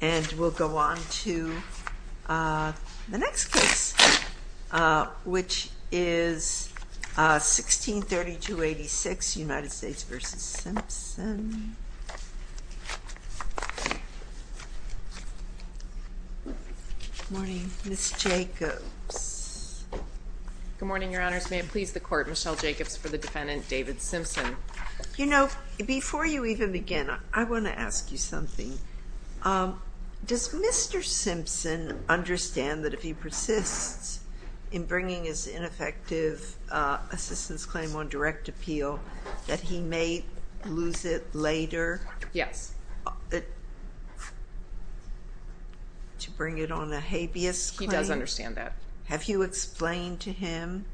And we'll go on to the next case, which is 1632-86, United States v. Simpson. Good morning, Ms. Jacobs. Good morning, Your Honors. May it please the Court, Michelle Jacobs for the defendant, David Simpson. You know, before you even begin, I want to ask you something. Does Mr. Simpson understand that if he persists in bringing his ineffective assistance claim on direct appeal that he may lose it later? Yes. To bring it on a habeas claim? He does understand that. Have you explained to him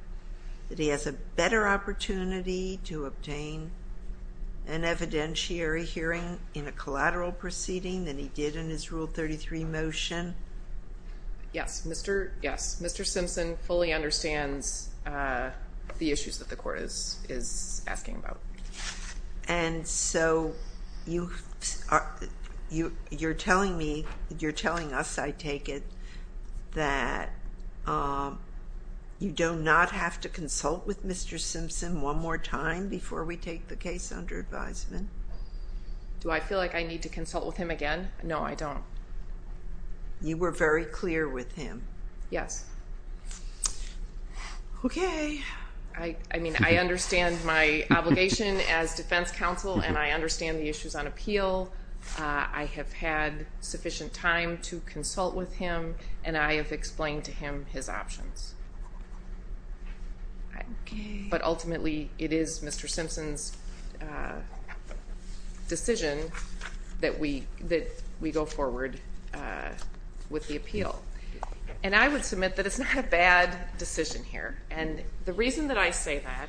that he has a better opportunity to obtain an evidentiary hearing in a collateral proceeding than he did in his Rule 33 motion? Yes. Mr. Simpson fully understands the issues that the Court is asking about. And so you're telling me, you're telling us, I take it, that you do not have to consult with Mr. Simpson one more time before we take the case under advisement? Do I feel like I need to consult with him again? No, I don't. You were very clear with him. Yes. Okay. I mean, I understand my obligation as defense counsel, and I understand the issues on appeal. I have had sufficient time to consult with him, and I have explained to him his options. But ultimately, it is Mr. Simpson's decision that we go forward with the appeal. And I would submit that it's not a bad decision here. And the reason that I say that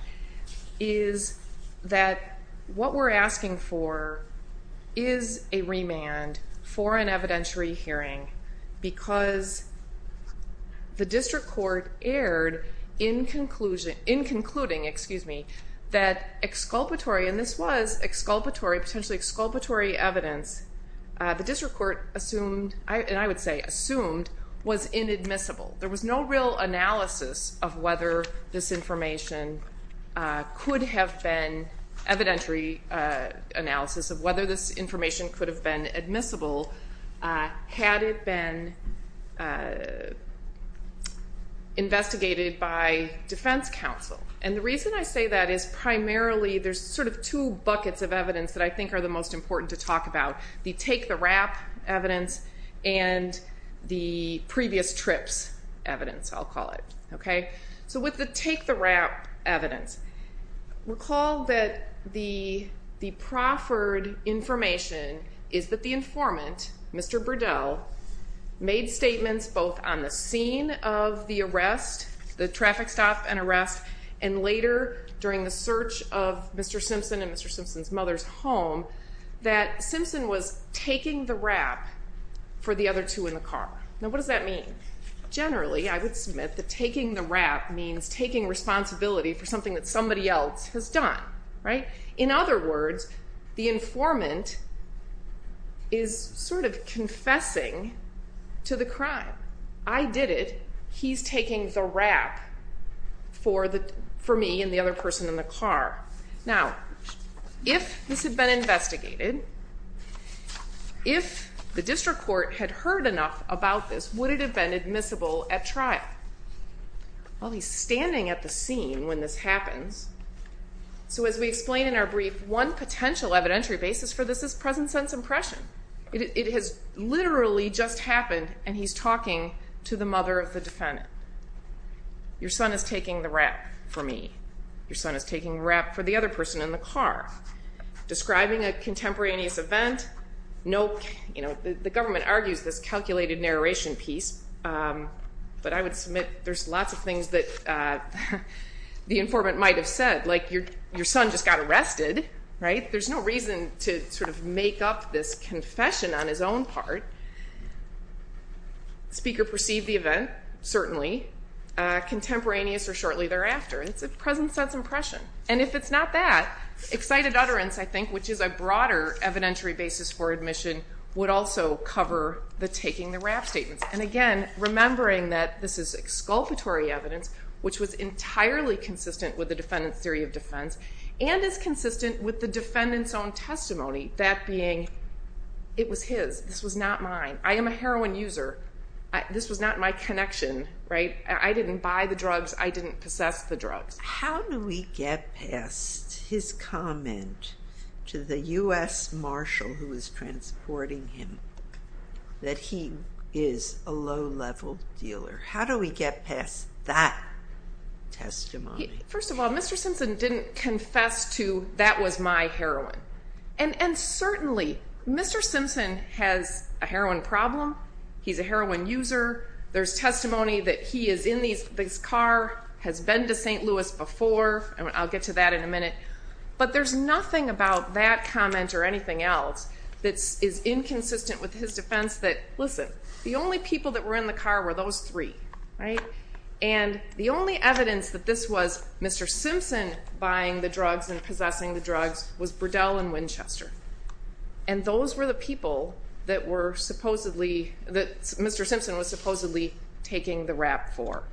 is that what we're asking for is a remand for an evidentiary hearing, because the District Court erred in concluding that exculpatory, and this was exculpatory, potentially exculpatory evidence, the District Court assumed, and I would say assumed, was inadmissible. There was no real analysis of whether this information could have been, evidentiary analysis of whether this information could have been admissible had it been investigated by defense counsel. And the reason I say that is primarily, there's sort of two buckets of evidence that I think are the most important to talk about, the take-the-wrap evidence and the previous trips evidence, I'll call it. So with the take-the-wrap evidence, recall that the proffered information is that the informant, Mr. Burdell, made statements both on the scene of the arrest, the traffic stop and arrest, and later during the search of Mr. Simpson and Mr. Simpson's mother's home, that Simpson was taking the wrap for the other two in the car. Now what does that mean? Generally, I would submit that taking the wrap means taking responsibility for something that somebody else has done, right? In other words, the informant is sort of confessing to the crime. I did it, he's taking the wrap for me and the other person in the car. Now, if this had been investigated, if the district court had heard enough about this, would it have been admissible at trial? Well, he's standing at the scene when this happens. So as we explain in our brief, one potential evidentiary basis for this is present sense impression. It has literally just happened and he's talking to the mother of the defendant. Your son is taking the wrap for me. Your son is taking the wrap for the other person in the car. Describing a contemporaneous event, no, you know, the government argues this calculated narration piece, but I would submit there's lots of things that the informant might have said, like your son just got arrested, right? There's no reason to sort of make up this confession on his own part. The speaker perceived the event, certainly, contemporaneous or shortly thereafter. It's a present sense impression. And if it's not that, excited utterance, I think, which is a broader evidentiary basis for admission, would also cover the taking the wrap statement. And again, remembering that this is exculpatory evidence, which was entirely consistent with the defendant's theory of defense, and is consistent with the defendant's own testimony, that being, it was his. This was not mine. I am a heroin user. This was not my connection, right? I didn't buy the drugs. I didn't possess the drugs. How do we get past his comment to the U.S. marshal who is transporting him that he is a low-level dealer? How do we get past that testimony? First of all, Mr. Simpson didn't confess to that was my heroin. And certainly, Mr. Simpson has a heroin problem. He's a heroin user. There's testimony that he is in this car, has been to St. Louis before, and I'll get to that in a minute. But there's nothing about that comment or anything else that is inconsistent with his defense that, listen, the only people that were in the car were those three, right? And the only evidence that this was Mr. Simpson buying the drugs and possessing the drugs was Burdell and Winchester. And those were the people that Mr. Simpson was supposedly taking the rap for.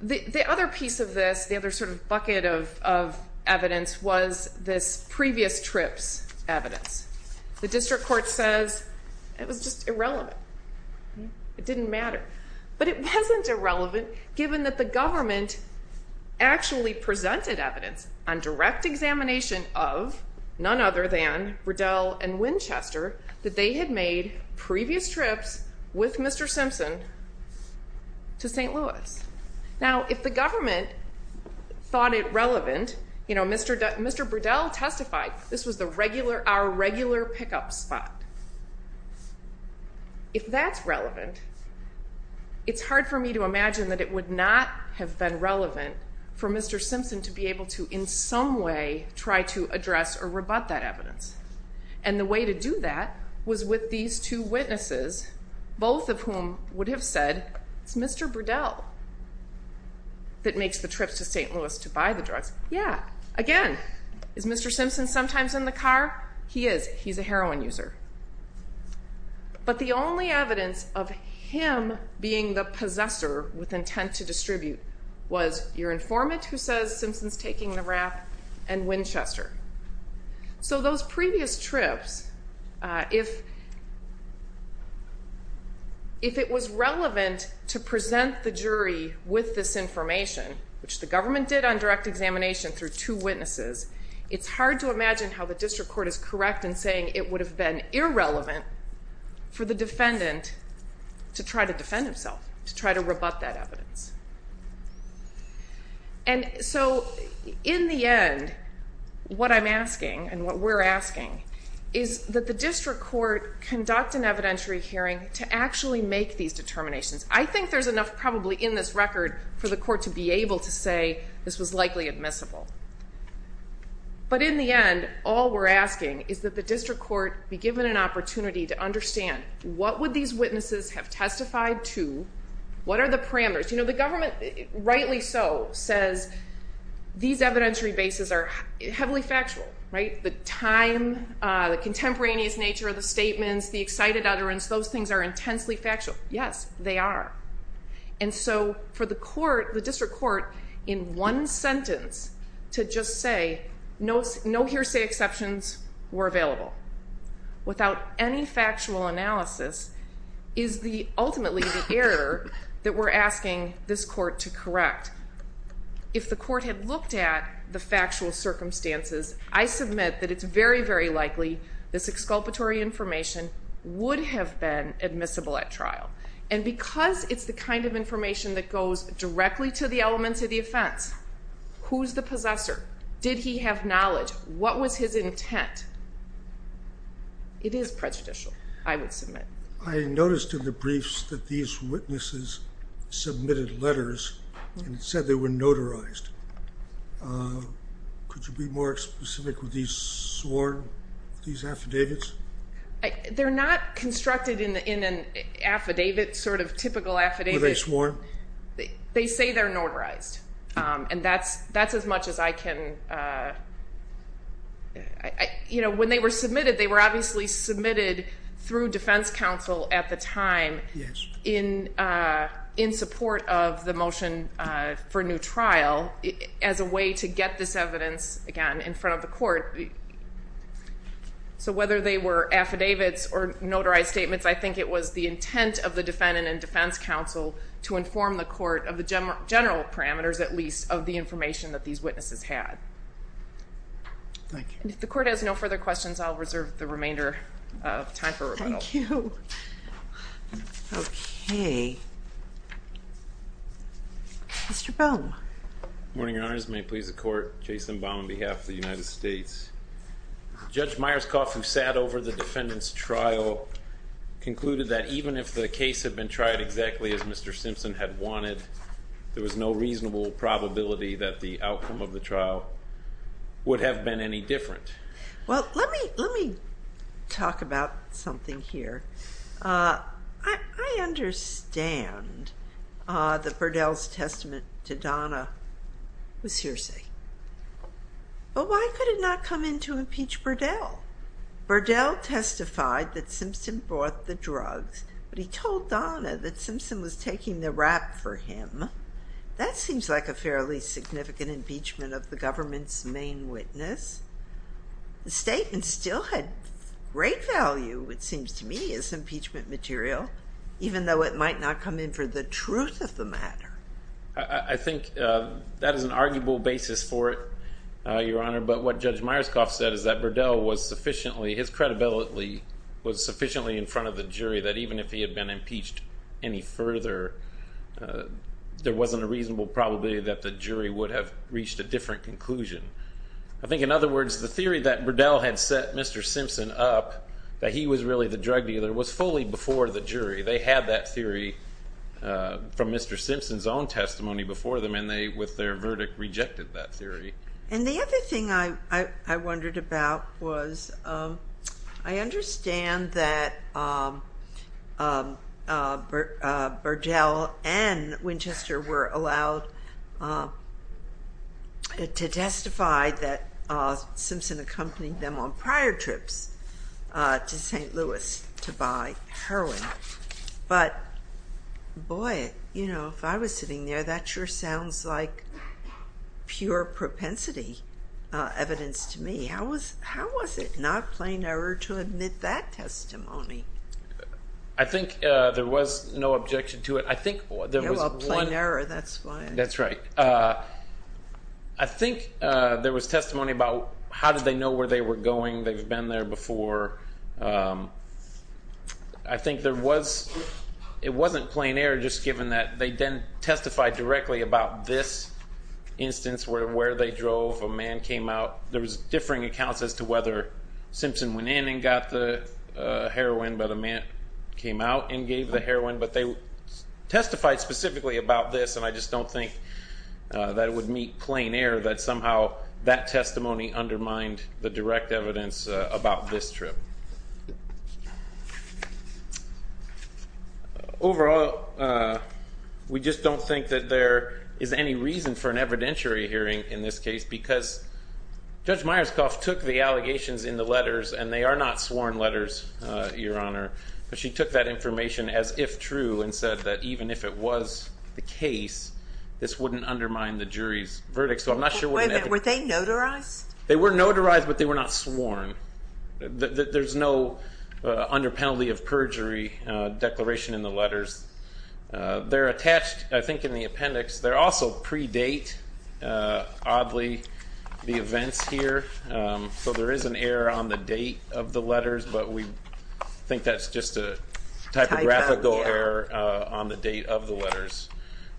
The other piece of this, the other sort of bucket of evidence, was this previous trip's evidence. The district court says it was just irrelevant. It didn't matter. But it wasn't irrelevant given that the government actually presented evidence on direct examination of, none other than Burdell and Winchester, that they had made previous trips with Mr. Simpson to St. Louis. Now, if the government thought it relevant, you know, Mr. Burdell testified this was our regular pickup spot. If that's relevant, it's hard for me to imagine that it would not have been relevant for Mr. Simpson to be able to, in some way, try to address or rebut that evidence. And the way to do that was with these two witnesses, both of whom would have said, it's Mr. Burdell that makes the trips to St. Louis to buy the drugs. Yeah, again, is Mr. Simpson sometimes in the car? He is. He's a heroin user. But the only evidence of him being the possessor with intent to distribute was your informant, who says Simpson's taking the rap, and Winchester. So those previous trips, if it was relevant to present the jury with this information, which the government did on direct examination through two witnesses, it's hard to imagine how the district court is correct in saying it would have been irrelevant for the defendant to try to defend himself, to try to rebut that evidence. And so, in the end, what I'm asking, and what we're asking, is that the district court conduct an evidentiary hearing to actually make these determinations. I think there's enough probably in this record for the court to be able to say this was likely admissible. But in the end, all we're asking is that the district court be given an opportunity to understand, what would these witnesses have testified to, what are the parameters? You know, the government, rightly so, says these evidentiary bases are heavily factual, right? The time, the contemporaneous nature of the statements, the excited utterance, those things are intensely factual. Yes, they are. And so, for the court, the district court, in one sentence, to just say, no hearsay exceptions were available, without any factual analysis, is ultimately the error that we're asking this court to correct. If the court had looked at the factual circumstances, I submit that it's very, very likely this exculpatory information would have been admissible at trial. And because it's the kind of information that goes directly to the elements of the offense, who's the possessor, did he have knowledge, what was his intent, it is prejudicial, I would submit. I noticed in the briefs that these witnesses submitted letters and said they were notarized. Could you be more specific with these sworn, these affidavits? They're not constructed in an affidavit, sort of typical affidavit. Were they sworn? They say they're notarized. And that's as much as I can, you know, when they were submitted, they were obviously submitted through defense counsel at the time, in support of the motion for new trial, as a way to get this evidence, again, in front of the court. So whether they were affidavits or notarized statements, I think it was the intent of the defendant and defense counsel to inform the court of the general parameters, at least, of the information that these witnesses had. Thank you. And if the court has no further questions, I'll reserve the remainder of time for rebuttal. Thank you. Okay. Mr. Baum. Good morning, Your Honors. May it please the court. Jason Baum, on behalf of the United States. Judge Myerscough, who sat over the defendant's trial, concluded that even if the case had been tried exactly as Mr. Simpson had wanted, there was no reasonable probability that the outcome of the trial would have been any different. Well, let me talk about something here. I understand that Burdell's testament to Donna was hearsay. But why could it not come in to impeach Burdell? Burdell testified that Simpson bought the drugs, but he told Donna that Simpson was taking the rap for him. That seems like a fairly significant impeachment of the government's main witness. The statement still had great value, it seems to me, as impeachment material, even though it might not come in for the truth of the matter. I think that is an arguable basis for it, Your Honor. But what Judge Myerscough said is that Burdell was sufficiently, his credibility was sufficiently in front of the jury that even if he had been impeached any further, there wasn't a reasonable probability that the jury would have reached a different conclusion. I think, in other words, the theory that Burdell had set Mr. Simpson up, that he was really the drug dealer, was fully before the jury. They had that theory from Mr. Simpson's own testimony before them, and they, with their verdict, rejected that theory. And the other thing I wondered about was, I understand that Burdell and Winchester were allowed to testify that Simpson accompanied them on prior trips to St. Louis to buy heroin. But, boy, you know, if I was sitting there, that sure sounds like pure propensity evidence to me. How was it not plain error to admit that testimony? I think there was no objection to it. No, a plain error, that's why. That's right. I think there was testimony about how did they know where they were going, they've been there before. I think there was, it wasn't plain error just given that they didn't testify directly about this instance, where they drove, a man came out. There was differing accounts as to whether Simpson went in and got the heroin, but a man came out and gave the heroin. But they testified specifically about this, and I just don't think that it would meet plain error that somehow that testimony undermined the direct evidence about this trip. Overall, we just don't think that there is any reason for an evidentiary hearing in this case because Judge Myerscough took the allegations in the letters, and they are not sworn letters, Your Honor, but she took that information as if true and said that even if it was the case, this wouldn't undermine the jury's verdict. Wait a minute, were they notarized? They were notarized, but they were not sworn. There's no under penalty of perjury declaration in the letters. They're attached, I think, in the appendix. They're also pre-date, oddly, the events here, so there is an error on the date of the letters, but we think that's just a typographical error on the date of the letters.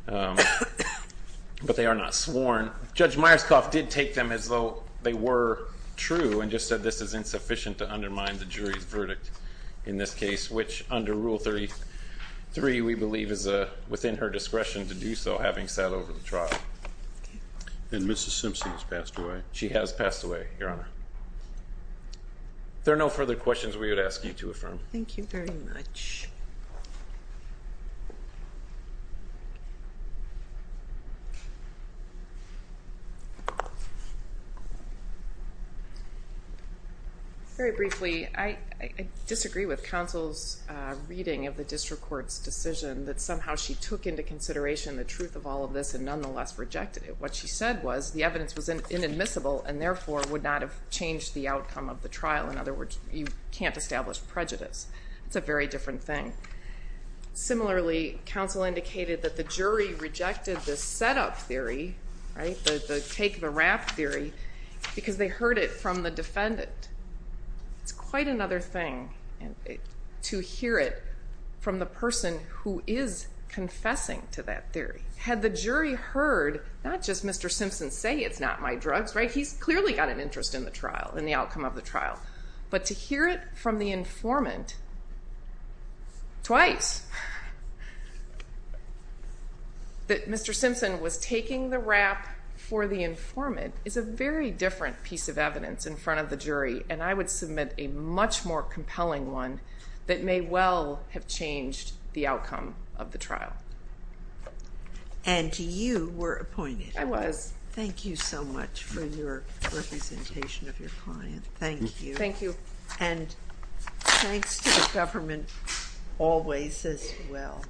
But they are not sworn. Judge Myerscough did take them as though they were true and just said this is insufficient to undermine the jury's verdict in this case, which under Rule 33, we believe, is within her discretion to do so, having sat over the trial. And Mrs. Simpson has passed away. She has passed away, Your Honor. If there are no further questions, we would ask you to affirm. Thank you very much. Thank you. Very briefly, I disagree with counsel's reading of the district court's decision that somehow she took into consideration the truth of all of this and nonetheless rejected it. What she said was the evidence was inadmissible and therefore would not have changed the outcome of the trial. In other words, you can't establish prejudice. It's a very different thing. Similarly, counsel indicated that the jury rejected the setup theory, the take the rap theory, because they heard it from the defendant. It's quite another thing to hear it from the person who is confessing to that theory. Had the jury heard not just Mr. Simpson say it's not my drugs, he's clearly got an interest in the trial, in the outcome of the trial, but to hear it from the informant, twice, that Mr. Simpson was taking the rap for the informant is a very different piece of evidence in front of the jury and I would submit a much more compelling one that may well have changed the outcome of the trial. And you were appointed. I was. Thank you so much for your representation of your client. Thank you. And thanks to the government always as well.